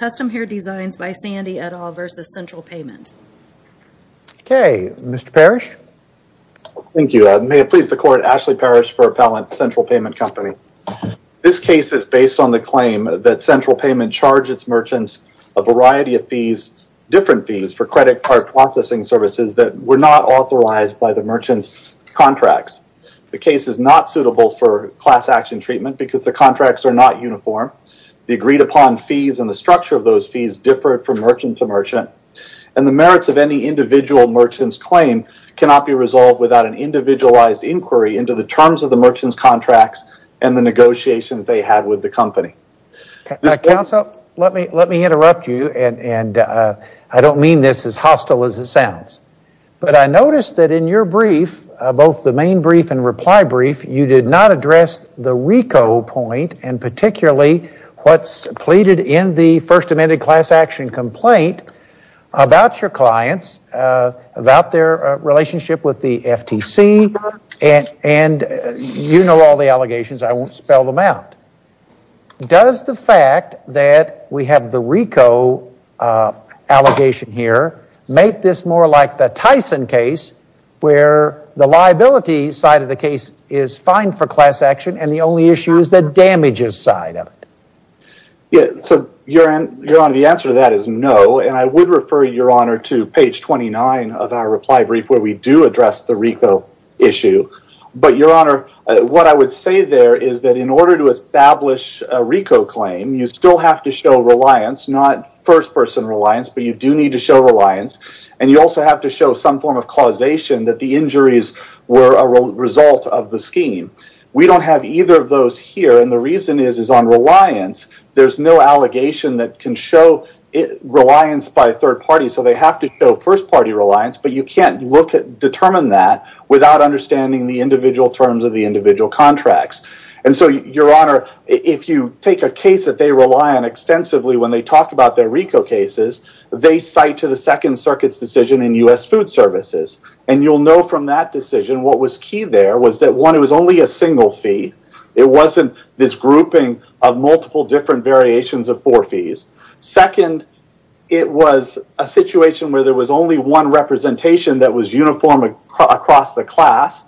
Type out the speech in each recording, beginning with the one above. Custom Hair Designs by Sandy et al versus Central Payment. Okay, Mr. Parrish. Thank you. May it please the court, Ashley Parrish for Appellant Central Payment Company. This case is based on the claim that Central Payment charged its merchants a variety of fees, different fees, for credit card processing services that were not authorized by the merchants contracts. The case is not suitable for class action treatment because the contracts are not uniform. The agreed-upon fees and the structure of those fees differed from merchant to merchant, and the merits of any individual merchant's claim cannot be resolved without an individualized inquiry into the terms of the merchants contracts and the negotiations they had with the company. Counsel, let me interrupt you, and I don't mean this as hostile as it sounds, but I noticed that in your brief, both the main brief and reply brief, you did not address the RICO point, and particularly what's pleaded in the First Amendment class action complaint about your clients, about their relationship with the FTC, and you know all the allegations. I won't spell them out. Does the fact that we have the RICO allegation here make this more like the Tyson case, where the liability side of the case is fine for class action and the only issue is the damages side of it? Yeah, so Your Honor, the answer to that is no, and I would refer Your Honor to page 29 of our reply brief where we do address the RICO issue, but Your Honor, what I would say there is that in order to establish a RICO claim, you still have to show reliance, not first-person reliance, but you do need to show reliance, and you also have to show some form of causation that the injuries were a result of the scheme. We don't have either of those here, and the reason is is on reliance, there's no allegation that can show reliance by a third party, so they have to show first-party reliance, but you can't look at determine that without understanding the individual terms of the individual contracts, and so Your Honor, if you take a case that they rely on extensively when they talk about their RICO cases, they cite to the Second Circuit's decision in the U.S. Food Services, and you'll know from that decision what was key there was that one, it was only a single fee, it wasn't this grouping of multiple different variations of four fees. Second, it was a situation where there was only one representation that was uniform across the class,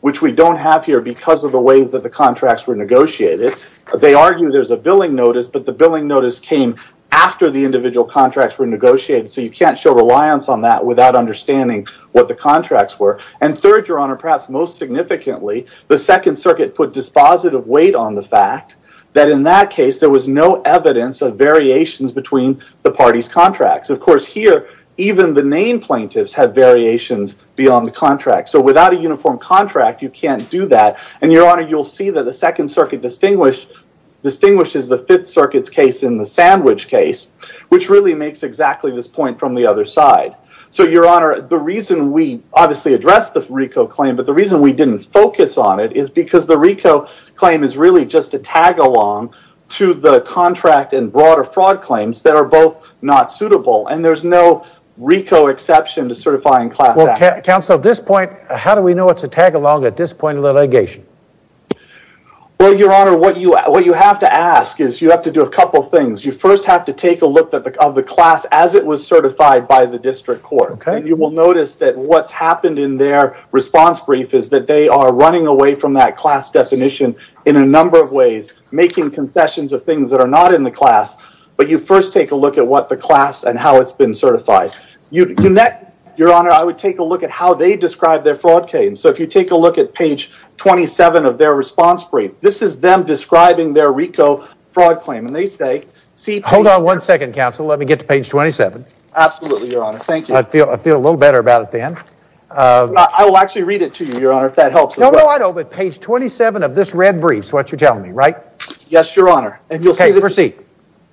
which we don't have here because of the ways that the contracts were negotiated. They argue there's a billing notice, but the billing notice came after the individual contracts were negotiated, so you can't show reliance on that without understanding what the contracts were, and third, Your Honor, perhaps most significantly, the Second Circuit put dispositive weight on the fact that in that case there was no evidence of variations between the parties' contracts. Of course, here, even the name plaintiffs had variations beyond the contract, so without a uniform contract, you can't do that, and Your Honor, you'll see that the Second Circuit distinguishes the Fifth Circuit's case in the So, Your Honor, the reason we obviously addressed the RICO claim, but the reason we didn't focus on it is because the RICO claim is really just a tagalong to the contract and broader fraud claims that are both not suitable, and there's no RICO exception to certifying class action. Well, counsel, at this point, how do we know it's a tagalong at this point in the litigation? Well, Your Honor, what you have to ask is you have to do a couple things. You first have to take a look at the class as it was certified by the district court, and you will notice that what's happened in their response brief is that they are running away from that class definition in a number of ways, making concessions of things that are not in the class, but you first take a look at what the class and how it's been certified. Your Honor, I would take a look at how they describe their fraud claim, so if you take a look at page 27 of their response brief, this is them describing their RICO fraud claim, and they say... Hold on one second. Let me get to page 27. Absolutely, Your Honor. Thank you. I feel a little better about it then. I will actually read it to you, Your Honor, if that helps. No, no, I don't, but page 27 of this red brief is what you're telling me, right? Yes, Your Honor, and you'll see... Okay, proceed.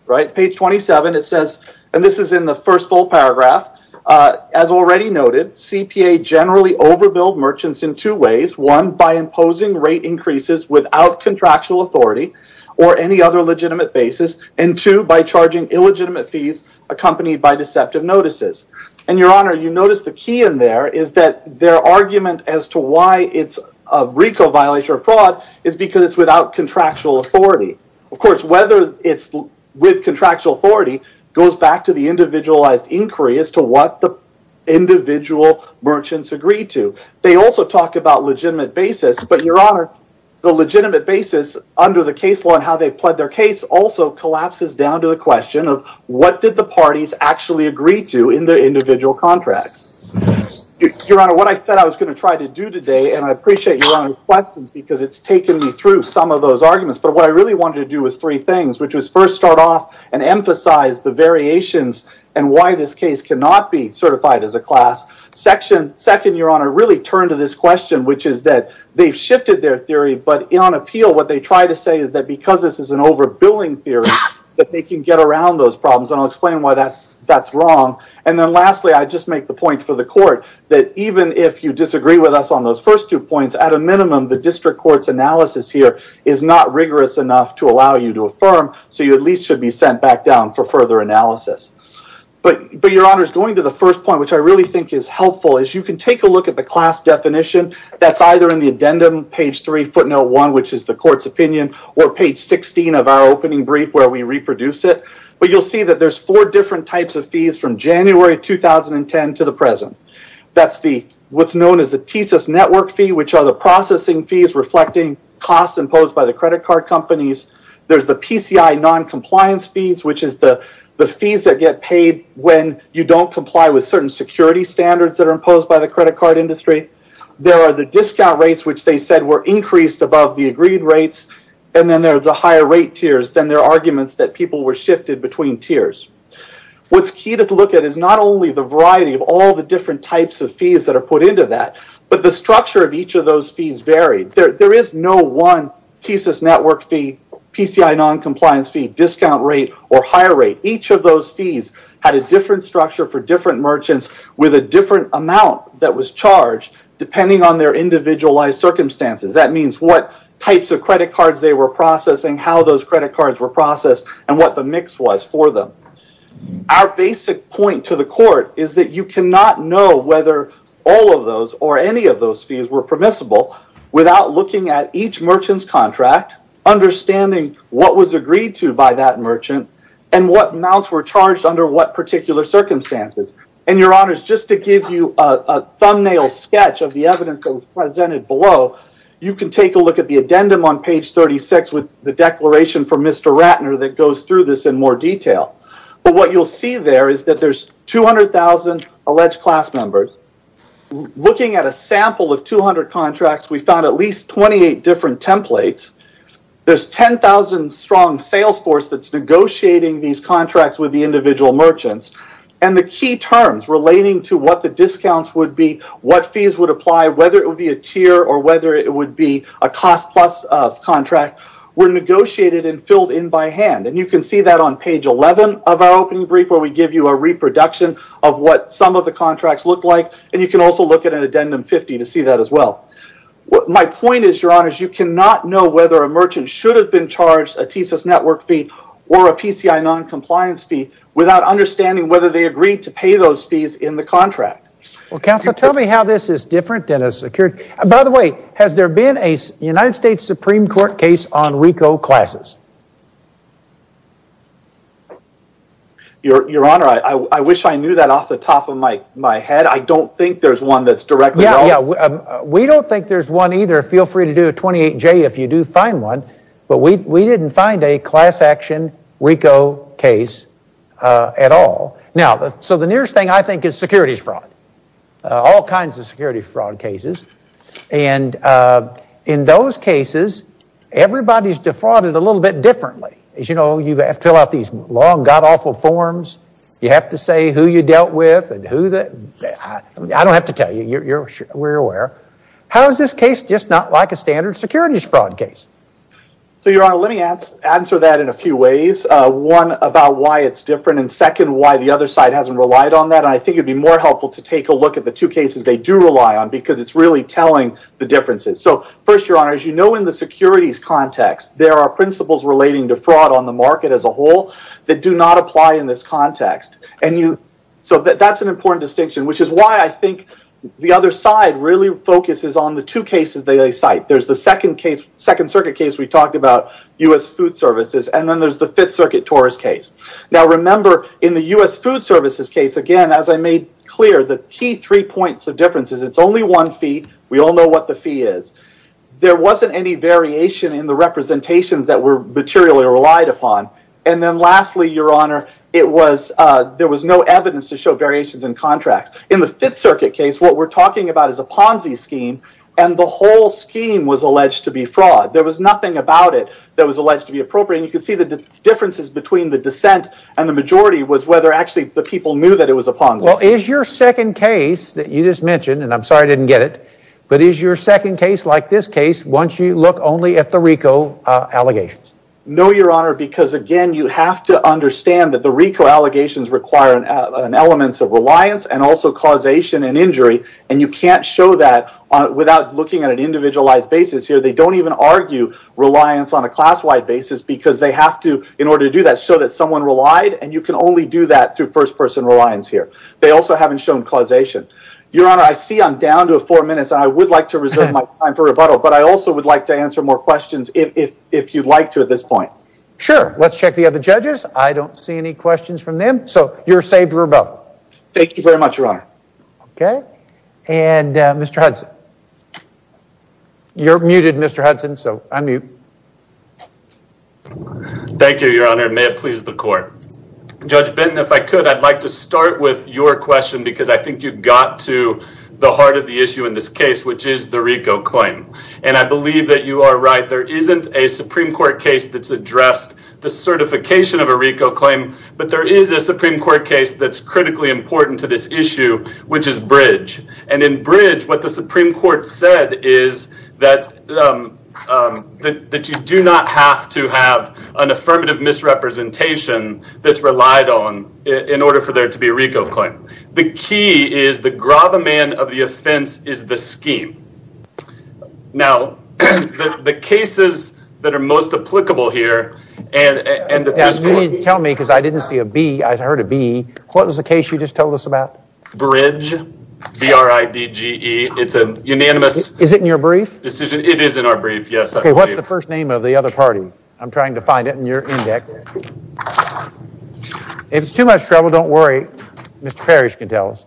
Right, page 27, it says, and this is in the first full paragraph, as already noted, CPA generally overbuild merchants in two ways. One, by imposing rate increases without contractual authority or any other illegitimate fees accompanied by deceptive notices, and Your Honor, you notice the key in there is that their argument as to why it's a RICO violation of fraud is because it's without contractual authority. Of course, whether it's with contractual authority goes back to the individualized inquiry as to what the individual merchants agreed to. They also talk about legitimate basis, but Your Honor, the legitimate basis under the case law and how they pled their case also collapses down to the question of what did the parties actually agree to in their individual contracts. Your Honor, what I said I was going to try to do today, and I appreciate Your Honor's questions because it's taken me through some of those arguments, but what I really wanted to do was three things, which was first start off and emphasize the variations and why this case cannot be certified as a class. Second, Your Honor, really turn to this question, which is that they've shifted their theory, but on appeal what they try to say is that because this is an overbilling theory that they can get around those problems, and I'll explain why that's wrong, and then lastly, I just make the point for the court that even if you disagree with us on those first two points, at a minimum, the district court's analysis here is not rigorous enough to allow you to affirm, so you at least should be sent back down for further analysis. But Your Honor, going to the first point, which I really think is helpful, is you can take a look at the class definition that's either in the addendum, page 3, footnote 1, which is the court's opinion, or page 16 of our opening brief where we reproduce it, but you'll see that there's four different types of fees from January 2010 to the present. That's what's known as the TSIS network fee, which are the processing fees reflecting costs imposed by the credit card companies. There's the PCI non-compliance fees, which is the fees that get paid when you don't comply with certain security standards that are imposed by the credit card industry. There are the discount rates, which they said were increased above the agreed rates, and then there's a higher rate tiers, then there are arguments that people were shifted between tiers. What's key to look at is not only the variety of all the different types of fees that are put into that, but the structure of each of those fees vary. There is no one TSIS network fee, PCI non-compliance fee, discount rate, or higher rate. Each of those fees had a different structure for the different amount that was charged depending on their individualized circumstances. That means what types of credit cards they were processing, how those credit cards were processed, and what the mix was for them. Our basic point to the court is that you cannot know whether all of those or any of those fees were permissible without looking at each merchant's contract, understanding what was agreed to by that merchant, and what amounts were charged under what particular circumstances. And your honors, just to give you a thumbnail sketch of the evidence that was presented below, you can take a look at the addendum on page 36 with the declaration from Mr. Ratner that goes through this in more detail. But what you'll see there is that there's 200,000 alleged class members. Looking at a sample of 200 contracts, we found at least 28 different templates. There's 10,000 strong sales force that's merchants. And the key terms relating to what the discounts would be, what fees would apply, whether it would be a tier or whether it would be a cost plus of contract, were negotiated and filled in by hand. And you can see that on page 11 of our opening brief where we give you a reproduction of what some of the contracts look like. And you can also look at an addendum 50 to see that as well. My point is, your honors, you cannot know whether a merchant should have been charged a TSIS network fee or a PCI non-compliance fee without understanding whether they agreed to pay those fees in the contract. Well, counsel, tell me how this is different than a secured... By the way, has there been a United States Supreme Court case on RICO classes? Your honor, I wish I knew that off the top of my head. I don't think there's one that's directly... Yeah, yeah. We don't think there's one either. Feel free to do a 28J if you do find one. But we didn't find a class action RICO case at all. Now, so the nearest thing I think is securities fraud. All kinds of security fraud cases. And in those cases, everybody's defrauded a little bit differently. As you know, you have to fill out these long, god-awful forms. You have to say who you dealt with and who the... I don't have to tell you. We're aware. How is this just not like a standard securities fraud case? So, your honor, let me answer that in a few ways. One, about why it's different, and second, why the other side hasn't relied on that. I think it'd be more helpful to take a look at the two cases they do rely on because it's really telling the differences. So, first, your honor, as you know in the securities context, there are principles relating to fraud on the market as a whole that do not apply in this context. And you... So that's an important distinction, which is why I think the other side really focuses on the two cases they cite. There's the Second Circuit case we talked about, U.S. Food Services, and then there's the Fifth Circuit TORS case. Now, remember, in the U.S. Food Services case, again, as I made clear, the key three points of difference is it's only one fee. We all know what the fee is. There wasn't any variation in the representations that were materially relied upon. And then lastly, your honor, it was... There was no evidence to show variations in contracts. In the Fifth Circuit case, what we're talking about is a Ponzi scheme, and the whole scheme was alleged to be fraud. There was nothing about it that was alleged to be appropriate. And you can see the differences between the dissent and the majority was whether, actually, the people knew that it was a Ponzi scheme. Well, is your second case that you just mentioned, and I'm sorry I didn't get it, but is your second case like this case once you look only at the RICO allegations? No, your honor, because, again, you have to understand that the RICO allegations require an element of that without looking at an individualized basis here. They don't even argue reliance on a class-wide basis because they have to, in order to do that, show that someone relied, and you can only do that through first-person reliance here. They also haven't shown causation. Your honor, I see I'm down to four minutes, and I would like to reserve my time for rebuttal, but I also would like to answer more questions if you'd like to at this point. Sure. Let's check the other judges. I don't see any questions from them. So you're saved for honor. Okay, and Mr. Hudson. You're muted, Mr. Hudson, so unmute. Thank you, your honor. May it please the court. Judge Benton, if I could, I'd like to start with your question because I think you got to the heart of the issue in this case, which is the RICO claim, and I believe that you are right. There isn't a Supreme Court case that's addressed the certification of a RICO claim, but there is a Supreme Court case that's critically important to this issue, which is Bridge, and in Bridge, what the Supreme Court said is that you do not have to have an affirmative misrepresentation that's relied on in order for there to be a RICO claim. The key is the gravamen of the offense is the scheme. Now, the cases that are most applicable here, and you need to tell me because I didn't see a B, I heard a B. What was the case you just told us about? Bridge, B-R-I-D-G-E, it's a unanimous. Is it in your brief? It is in our brief, yes. Okay, what's the first name of the other party? I'm trying to find it in your index. If it's too much trouble, don't worry, Mr. Parrish can tell us.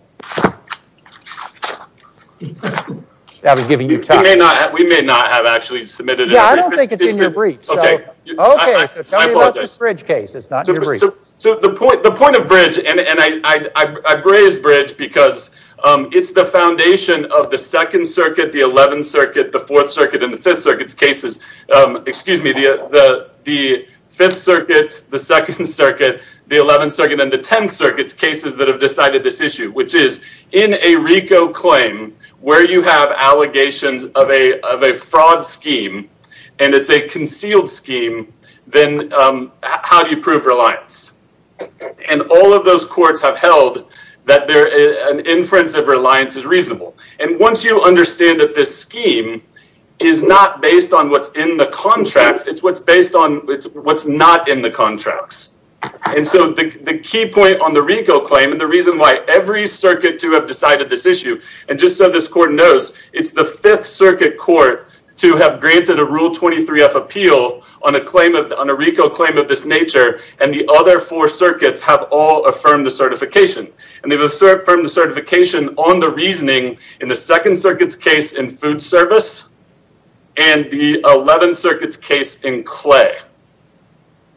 That was giving you So, the point of Bridge, and I praise Bridge because it's the foundation of the Second Circuit, the Eleventh Circuit, the Fourth Circuit, and the Fifth Circuit's cases, excuse me, the Fifth Circuit, the Second Circuit, the Eleventh Circuit, and the Tenth Circuit's cases that have decided this issue, which is in a RICO claim, where you have allegations of a fraud scheme, and it's a concealed scheme, then how do you prove reliance? And all of those courts have held that an inference of reliance is reasonable. And once you understand that this scheme is not based on what's in the contracts, it's what's based on what's not in the contracts. And so, the key point on the RICO claim, and the reason why every circuit to have decided this issue, and just so this court knows, it's the Fifth Circuit court to have granted a Rule 23-F appeal on a RICO claim of this nature, and the other four circuits have all affirmed the certification. And they've affirmed the certification on the reasoning in the Second Circuit's case in food service, and the Eleventh Circuit's case in clay.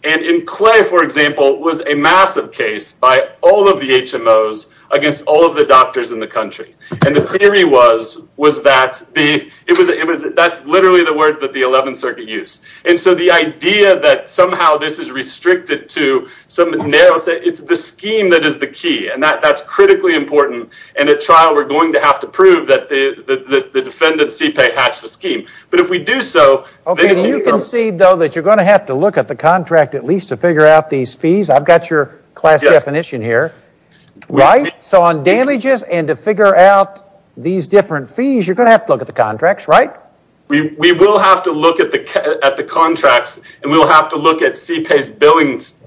And in clay, for example, was a massive case by all of the HMOs against all of the doctors in the country. And the theory was that that's literally the words that the Eleventh Circuit used. And so, the idea that somehow this is restricted to some narrow set, it's the scheme that is the key, and that's critically important. And at trial, we're going to have to prove that the defendant, CPEI, hatched the scheme. But if we do so... Okay, do you concede, though, that you're going to have to look at the contract at least to figure out these fees? I've got your class definition here. Right? So, on damages and to figure out these different fees, you're going to have to look at the contracts, right? We will have to look at the contracts, and we'll have to look at CPEI's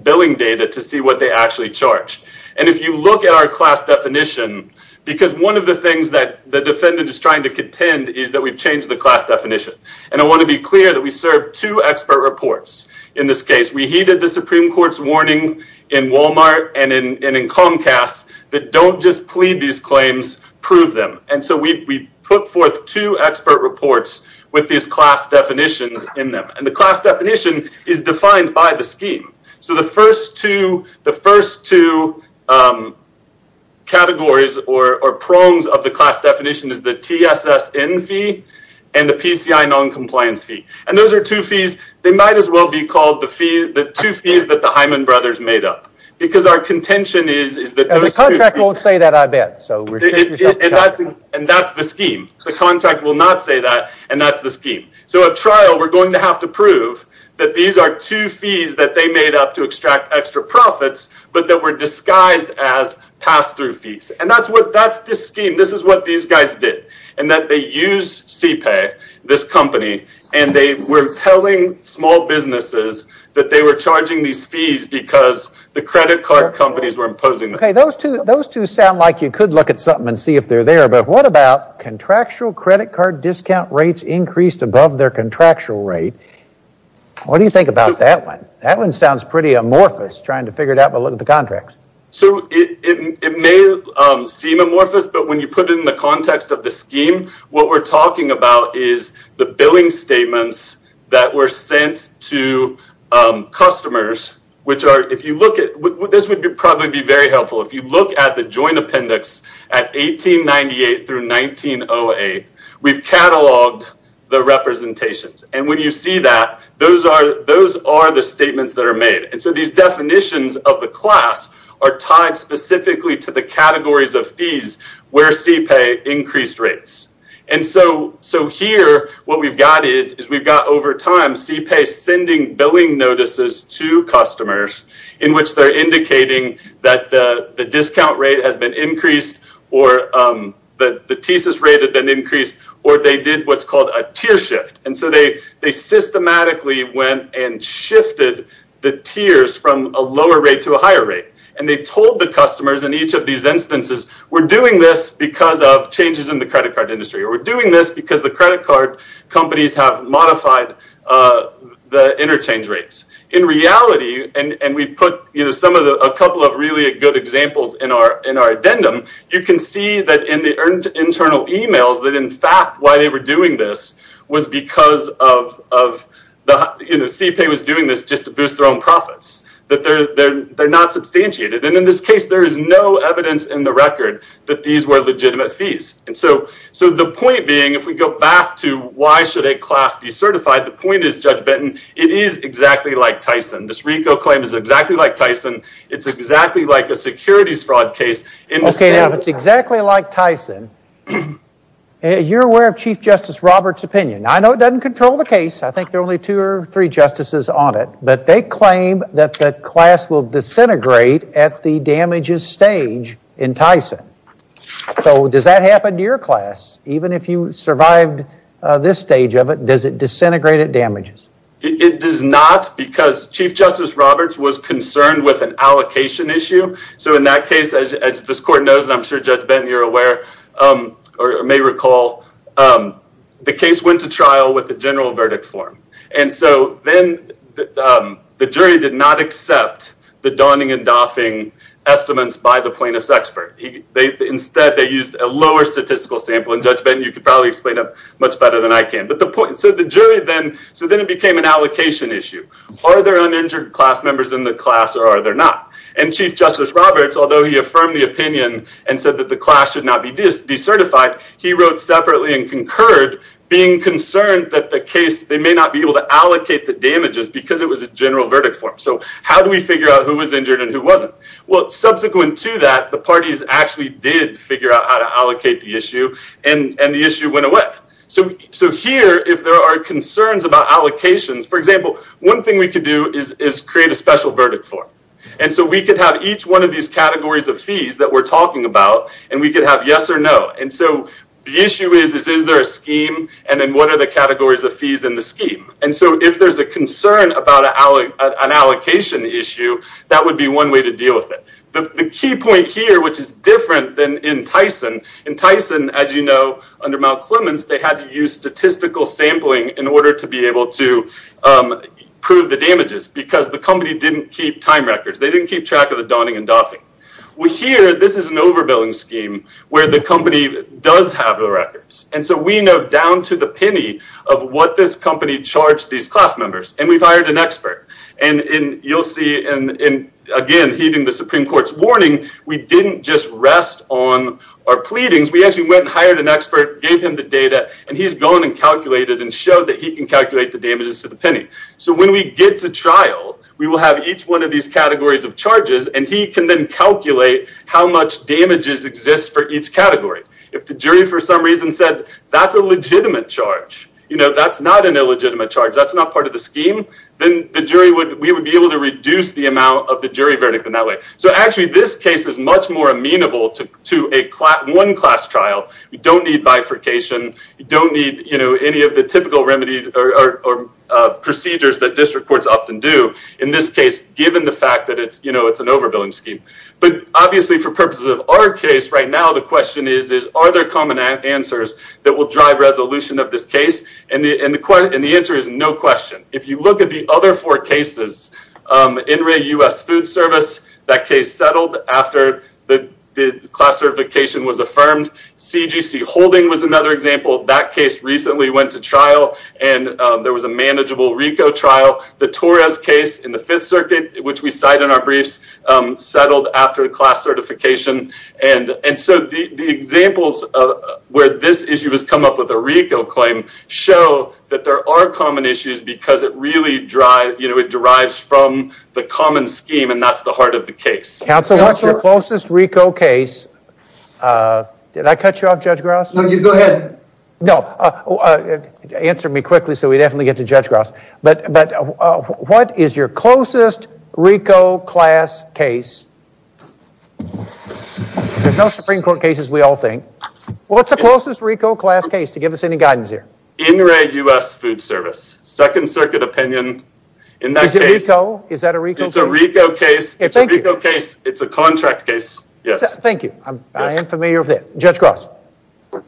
billing data to see what they actually charge. And if you look at our class definition, because one of the things that the defendant is trying to contend is that we've changed the class definition. And I want to be warning in Walmart and in Comcast that don't just plead these claims, prove them. And so, we put forth two expert reports with these class definitions in them. And the class definition is defined by the scheme. So, the first two categories or prongs of the class definition is the TSSN fee and the PCI noncompliance fee. And those are two fees. They might as well be the two fees that the Hyman brothers made up. Because our contention is that... The contract won't say that, I bet. And that's the scheme. The contract will not say that, and that's the scheme. So, at trial, we're going to have to prove that these are two fees that they made up to extract extra profits, but that were disguised as pass-through fees. And that's the scheme. This is what these guys did. And that they used CPAY, this company, and they were telling small businesses that they were charging these fees because the credit card companies were imposing them. Okay, those two sound like you could look at something and see if they're there. But what about contractual credit card discount rates increased above their contractual rate? What do you think about that one? That one sounds pretty amorphous, trying to figure it out, but look at the contracts. So, it may seem amorphous, but when you put it in the context of the scheme, what we're talking about is the billing statements that were sent to customers, which are... This would probably be very helpful. If you look at the joint appendix at 1898 through 1908, we've cataloged the representations. And when you see that, those are the statements that are made. So, these definitions of the class are tied specifically to the categories of fees where CPAY increased rates. And so, here, what we've got is we've got, over time, CPAY sending billing notices to customers in which they're indicating that the discount rate has been increased, or that the thesis rate had been increased, or they did what's called a tier from a lower rate to a higher rate. And they told the customers in each of these instances, we're doing this because of changes in the credit card industry, or we're doing this because the credit card companies have modified the interchange rates. In reality, and we put a couple of really good examples in our addendum, you can see that in the internal emails that, in fact, they were doing this was because of the... You know, CPAY was doing this just to boost their own profits, that they're not substantiated. And in this case, there is no evidence in the record that these were legitimate fees. And so the point being, if we go back to why should a class be certified, the point is, Judge Benton, it is exactly like Tyson. This RICO claim is exactly like Tyson. It's exactly like a securities fraud case in the sense that... You're aware of Chief Justice Roberts' opinion. I know it doesn't control the case. I think there are only two or three justices on it, but they claim that the class will disintegrate at the damages stage in Tyson. So does that happen to your class? Even if you survived this stage of it, does it disintegrate at damages? It does not because Chief Justice Roberts was concerned with an allocation issue. So in that case, as this court knows, and I'm sure Judge Benton, you're aware, or may recall, the case went to trial with the general verdict form. And so then the jury did not accept the donning and doffing estimates by the plaintiff's expert. Instead, they used a lower statistical sample. And Judge Benton, you could probably explain it much better than I can. So then it became an allocation issue. Are there uninjured class members in the class or are there not? And Chief Justice Roberts, although he affirmed the opinion and said that the class should not be decertified, he wrote separately and concurred being concerned that the case, they may not be able to allocate the damages because it was a general verdict form. So how do we figure out who was injured and who wasn't? Well, subsequent to that, the parties actually did figure out how to allocate the issue and the issue went away. So here, if there are concerns about allocations, for example, one thing we could do is create a special verdict form. And so we could have each one of these categories of fees that we're talking about, and we could have yes or no. And so the issue is, is there a scheme? And then what are the categories of fees in the scheme? And so if there's a concern about an allocation issue, that would be one way to deal with it. The key point here, which is different than in Tyson, in Tyson, as you know, under Mount Clemens, they had to use statistical sampling in order to be They didn't keep track of the donning and doffing. Well, here, this is an overbilling scheme where the company does have the records. And so we know down to the penny of what this company charged these class members, and we've hired an expert. And you'll see, and again, heeding the Supreme Court's warning, we didn't just rest on our pleadings. We actually went and hired an expert, gave him the data, and he's gone and calculated and showed that he can calculate the damages to So when we get to trial, we will have each one of these categories of charges, and he can then calculate how much damages exist for each category. If the jury, for some reason, said that's a legitimate charge, that's not an illegitimate charge, that's not part of the scheme, then we would be able to reduce the amount of the jury verdict in that way. So actually, this case is much more amenable to one class trial. We don't need bifurcation. You don't need any of the typical remedies or procedures that district courts often do in this case, given the fact that it's an overbilling scheme. But obviously, for purposes of our case right now, the question is, are there common answers that will drive resolution of this case? And the answer is no question. If you look at the other four cases, NREA U.S. Food Service, that case settled after the class certification was affirmed. CGC Holding was another example. That case recently went to trial, and there was a manageable RICO trial. The Torres case in the Fifth Circuit, which we cite in our briefs, settled after class certification. And so the examples where this issue has come up with a RICO claim show that there are common issues because it really derives from the common scheme, and that's the heart of the case. Counsel, what's your closest RICO case? Did I cut you off, Judge Grouse? No, you go ahead. No, answer me quickly so we definitely get to Judge Grouse. But what is your closest RICO class case? There's no Supreme Court cases, we all think. What's the closest RICO class case, to give us any guidance here? NREA U.S. Food Service. Second Circuit opinion. Is that a RICO case? It's a RICO case. It's a RICO case. It's a contract case. Yes, thank you. I am familiar with that. Judge Grouse.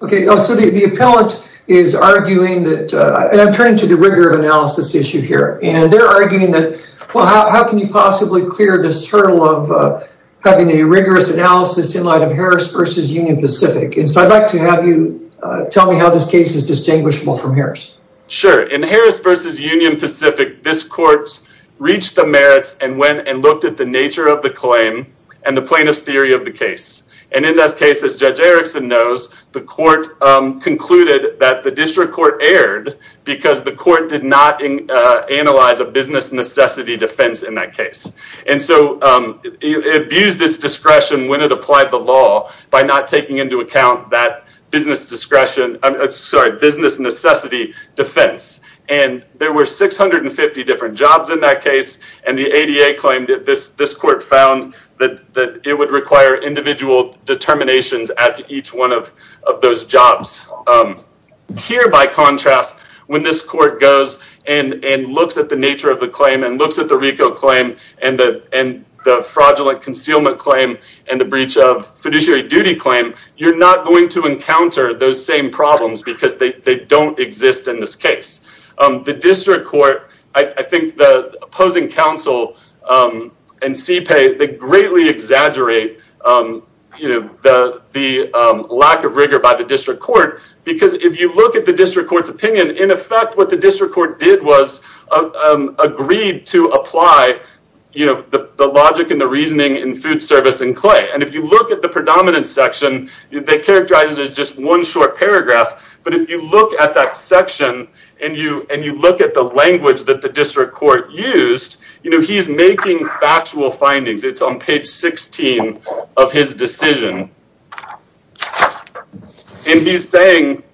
Okay, so the appellant is arguing that, and I'm turning to the rigor of analysis issue here, and they're arguing that, well, how can you possibly clear this hurdle of having a rigorous analysis in light of Harris versus Union Pacific? And so I'd like to have you tell me how this case is distinguishable from Harris. Sure. In Harris versus Union Pacific, this court reached the merits and went and looked at the nature of the claim and the plaintiff's theory of the case. And in this case, as Judge Erickson knows, the court concluded that the district court erred because the court did not analyze a business necessity defense in that case. And so it abused its discretion when it applied the law by not defense. And there were 650 different jobs in that case, and the ADA claimed that this court found that it would require individual determinations as to each one of those jobs. Here, by contrast, when this court goes and looks at the nature of the claim and looks at the RICO claim and the fraudulent concealment claim and the breach of fiduciary duty claim, you're not going to encounter those same problems because they don't exist in this case. The district court, I think the opposing counsel and CPEI, they greatly exaggerate the lack of rigor by the district court because if you look at the district court's opinion, in effect, what the district court did was agreed to apply the logic and the reasoning in food service and clay. And if you look at the predominant section, they characterize it as just one short paragraph. But if you look at that section and you look at the language that the district court used, he's making factual findings. It's on page 16 of his decision. And he's saying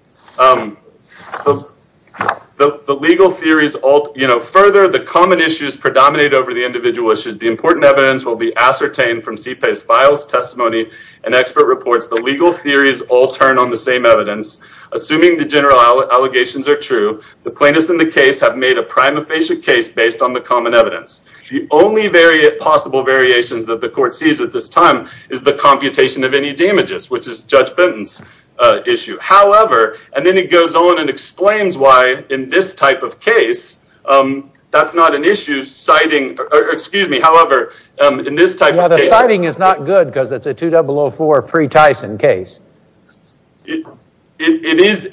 the legal theories further, the common issues predominate over the individual issues. The important evidence will be ascertained from CPEI's files, testimony, and expert reports. The legal theories all turn on the same evidence. Assuming the general allegations are true, the plaintiffs in the case have made a prima facie case based on the common evidence. The only possible variations that the court sees at this time is the computation of any damages, which is Judge Benton's issue. However, and then he goes on and explains why in this type of case, that's not an issue, citing, excuse me, however, in this type of case. Yeah, the citing is not good because it's a 2004 pre-Tyson case. It is,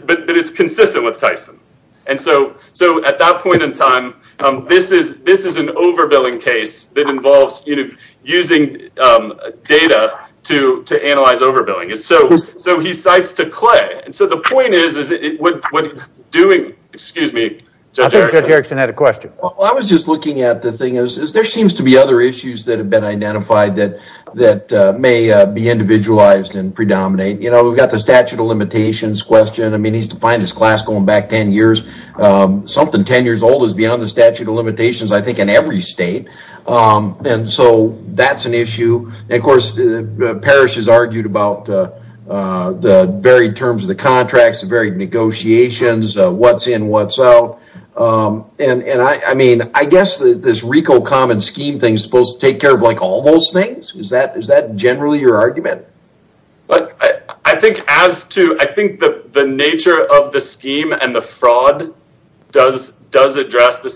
but it's consistent with Tyson. And so at that point in time, this is an overbilling case that involves, you know, using data to analyze overbilling. And so he cites to clay. And so the point is, is it, what's doing, excuse me. I think Judge Erickson had a question. I was just looking at the thing is, is there seems to be other issues that have been identified that, that may be individualized and predominate. You know, we've got the statute of limitations question. I mean, he's defined his class going back 10 years. Something 10 years old is beyond the statute of limitations, I think in every state. And so that's an issue. And of course, Parrish has argued about the varied terms of the contracts, the varied negotiations, what's in, what's out. And I mean, I guess that this RICO common scheme thing is supposed to take care of like all those things. Is that generally your argument? But I think as to, I think that the nature of the scheme and the fraud does address the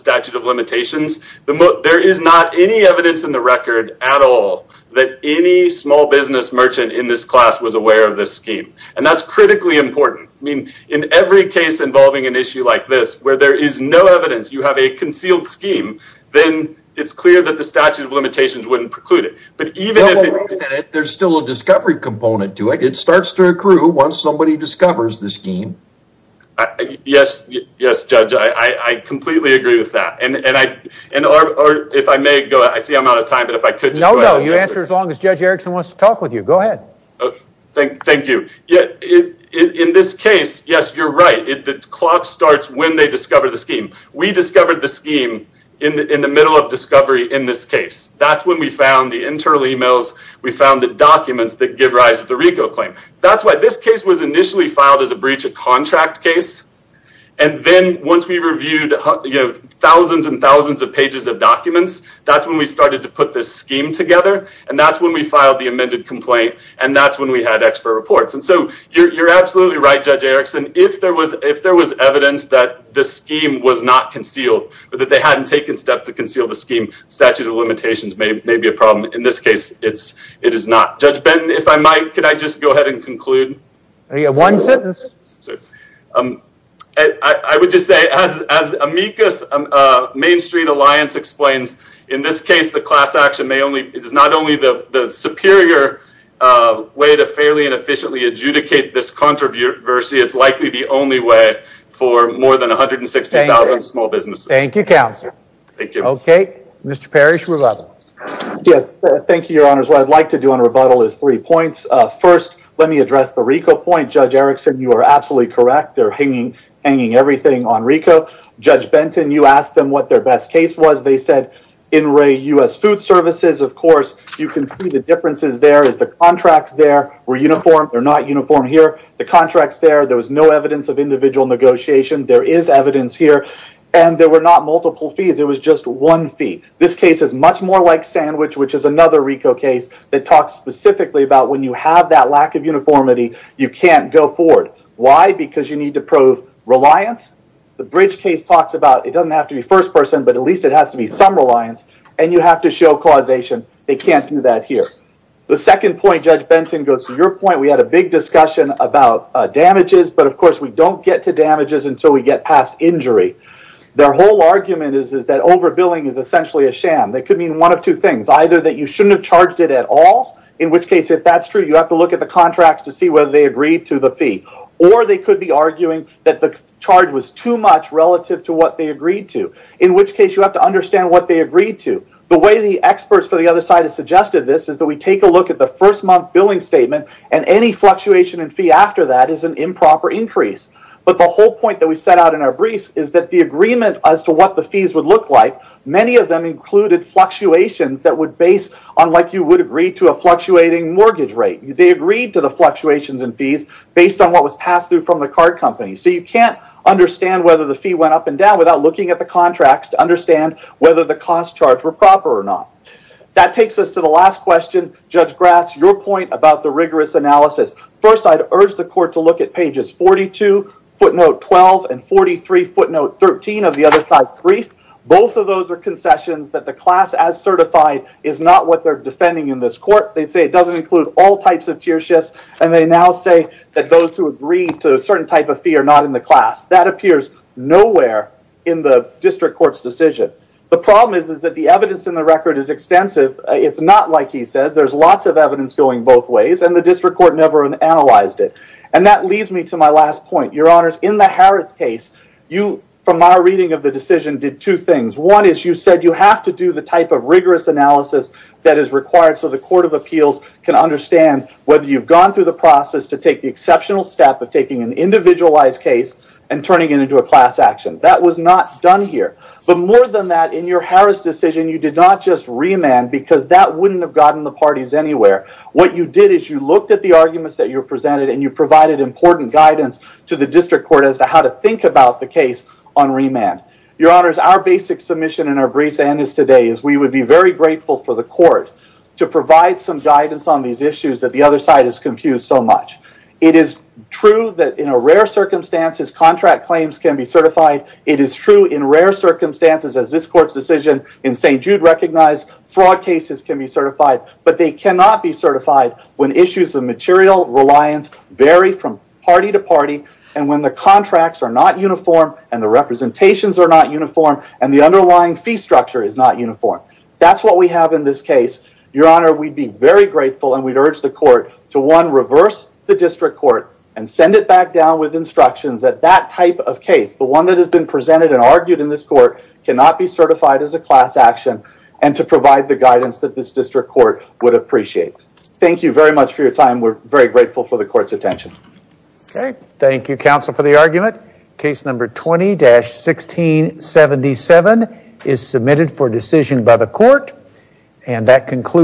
small business merchant in this class was aware of this scheme. And that's critically important. I mean, in every case involving an issue like this, where there is no evidence, you have a concealed scheme, then it's clear that the statute of limitations wouldn't preclude it. But even if there's still a discovery component to it, it starts to accrue once somebody discovers the scheme. Yes. Yes, Judge. I completely agree with that. And, and I, and, or if I may go, I see I'm out of time, but if I could just... No, no. You answer as long as Judge Erickson wants to talk with you. Go ahead. Thank you. Yeah. In this case, yes, you're right. The clock starts when they discover the scheme. We discovered the scheme in the middle of discovery in this case. That's when we found the internal emails. We found the documents that give rise to the RICO claim. That's why this case was initially filed as a breach of contract case. And then once we reviewed, you know, thousands and thousands of pages of documents, that's when we started to put this scheme together. And that's when we filed the amended complaint. And that's when we had expert reports. And so you're, you're absolutely right, Judge Erickson. If there was, if there was evidence that the scheme was not concealed, but that they hadn't taken steps to conceal the scheme, statute of limitations may be a problem. In this case, it's, it is not. Judge Benton, if I might, could I just go ahead and conclude? One sentence. I would just say as, as Amicus Main Street Alliance explains, in this case, the class action may only, it is not only the superior way to fairly and efficiently adjudicate this controversy, it's likely the only way for more than 160,000 small businesses. Thank you, Counselor. Thank you. Okay. Mr. Parrish, rebuttal. Yes. Thank you, Your Honors. What I'd like to do on rebuttal is three points. First, let me address the RICO point. Judge Erickson, you are absolutely correct. They're hanging, hanging everything on RICO. Judge Benton, you asked them what their best case was. They said, in Ray US Food Services, of course, you can see the differences there is the contracts there were uniform. They're not uniform here. The contracts there, there was no evidence of individual negotiation. There is evidence here and there were not multiple fees. It was just one fee. This case is much more like Sandwich, which is another RICO case that talks specifically about when you have that lack of uniformity, you can't go forward. Why? Because you need to prove reliance. The Bridge case talks about it doesn't have to be first person, but at least it has to be some reliance and you have to show causation. They can't do that here. The second point, Judge Benton, goes to your point. We had a big discussion about damages, but of course, we don't get to damages until we get past injury. Their whole argument is that overbilling is essentially a sham. That could mean one of two things, either that you shouldn't have charged it at all, in which case, if that's true, you have to look at the contracts to see whether they agreed to the fee, or they could be arguing that the charge was too much relative to what they agreed to, in which case, you have to understand what they agreed to. The way the experts for the other side has suggested this is that we take a look at the first month billing statement and any fluctuation in fee after that is an improper increase. The whole point that we set out in our briefs is that the agreement as to what the fees would look like, many of them included fluctuations that would base on like you would agree to a fluctuating mortgage rate. They agreed to the fluctuations in fees based on what was passed through from the card company. You can't understand whether the fee went up and down without looking at the contracts to understand whether the cost charged were proper or not. That takes us to the last question, Judge Gratz, your point about the rigorous analysis. First, I'd urge the court to look at pages 42, footnote 12, and 43, footnote 13 of the other side brief. Both of those are concessions that the class as certified is not what they're defending in this court. They say it doesn't include all types of tier shifts, and they now say that those who agree to a certain type of fee are not in the class. That appears nowhere in the district court's decision. The problem is that the evidence in the record is extensive. It's not like he says. There's lots of That leads me to my last point. Your honors, in the Harris case, from my reading of the decision, did two things. One is you said you have to do the type of rigorous analysis that is required so the court of appeals can understand whether you've gone through the process to take the exceptional step of taking an individualized case and turning it into a class action. That was not done here. But more than that, in your Harris decision, you did not just remand because that wouldn't have gotten the parties anywhere. What you did is you looked at the arguments that you presented and provided important guidance to the district court as to how to think about the case on remand. Your honors, our basic submission in our briefs and today is we would be very grateful for the court to provide some guidance on these issues that the other side is confused so much. It is true that in rare circumstances, contract claims can be certified. It is true in rare circumstances as this court's decision in St. Jude recognized fraud cases can be certified, but they cannot be certified when issues of material reliance vary from party to party and when the contracts are not uniform and the representations are not uniform and the underlying fee structure is not uniform. That's what we have in this case. Your honor, we'd be very grateful and we'd urge the court to one, reverse the district court and send it back down with instructions that that type of case, the one that has been presented and argued in this court, cannot be certified as a class action and to provide the guidance that this district court would appreciate. Thank you very much for your time. We're very grateful for the court's attention. Okay, thank you counsel for the argument. Case number 20-1677 is submitted for decision by the court and that concludes.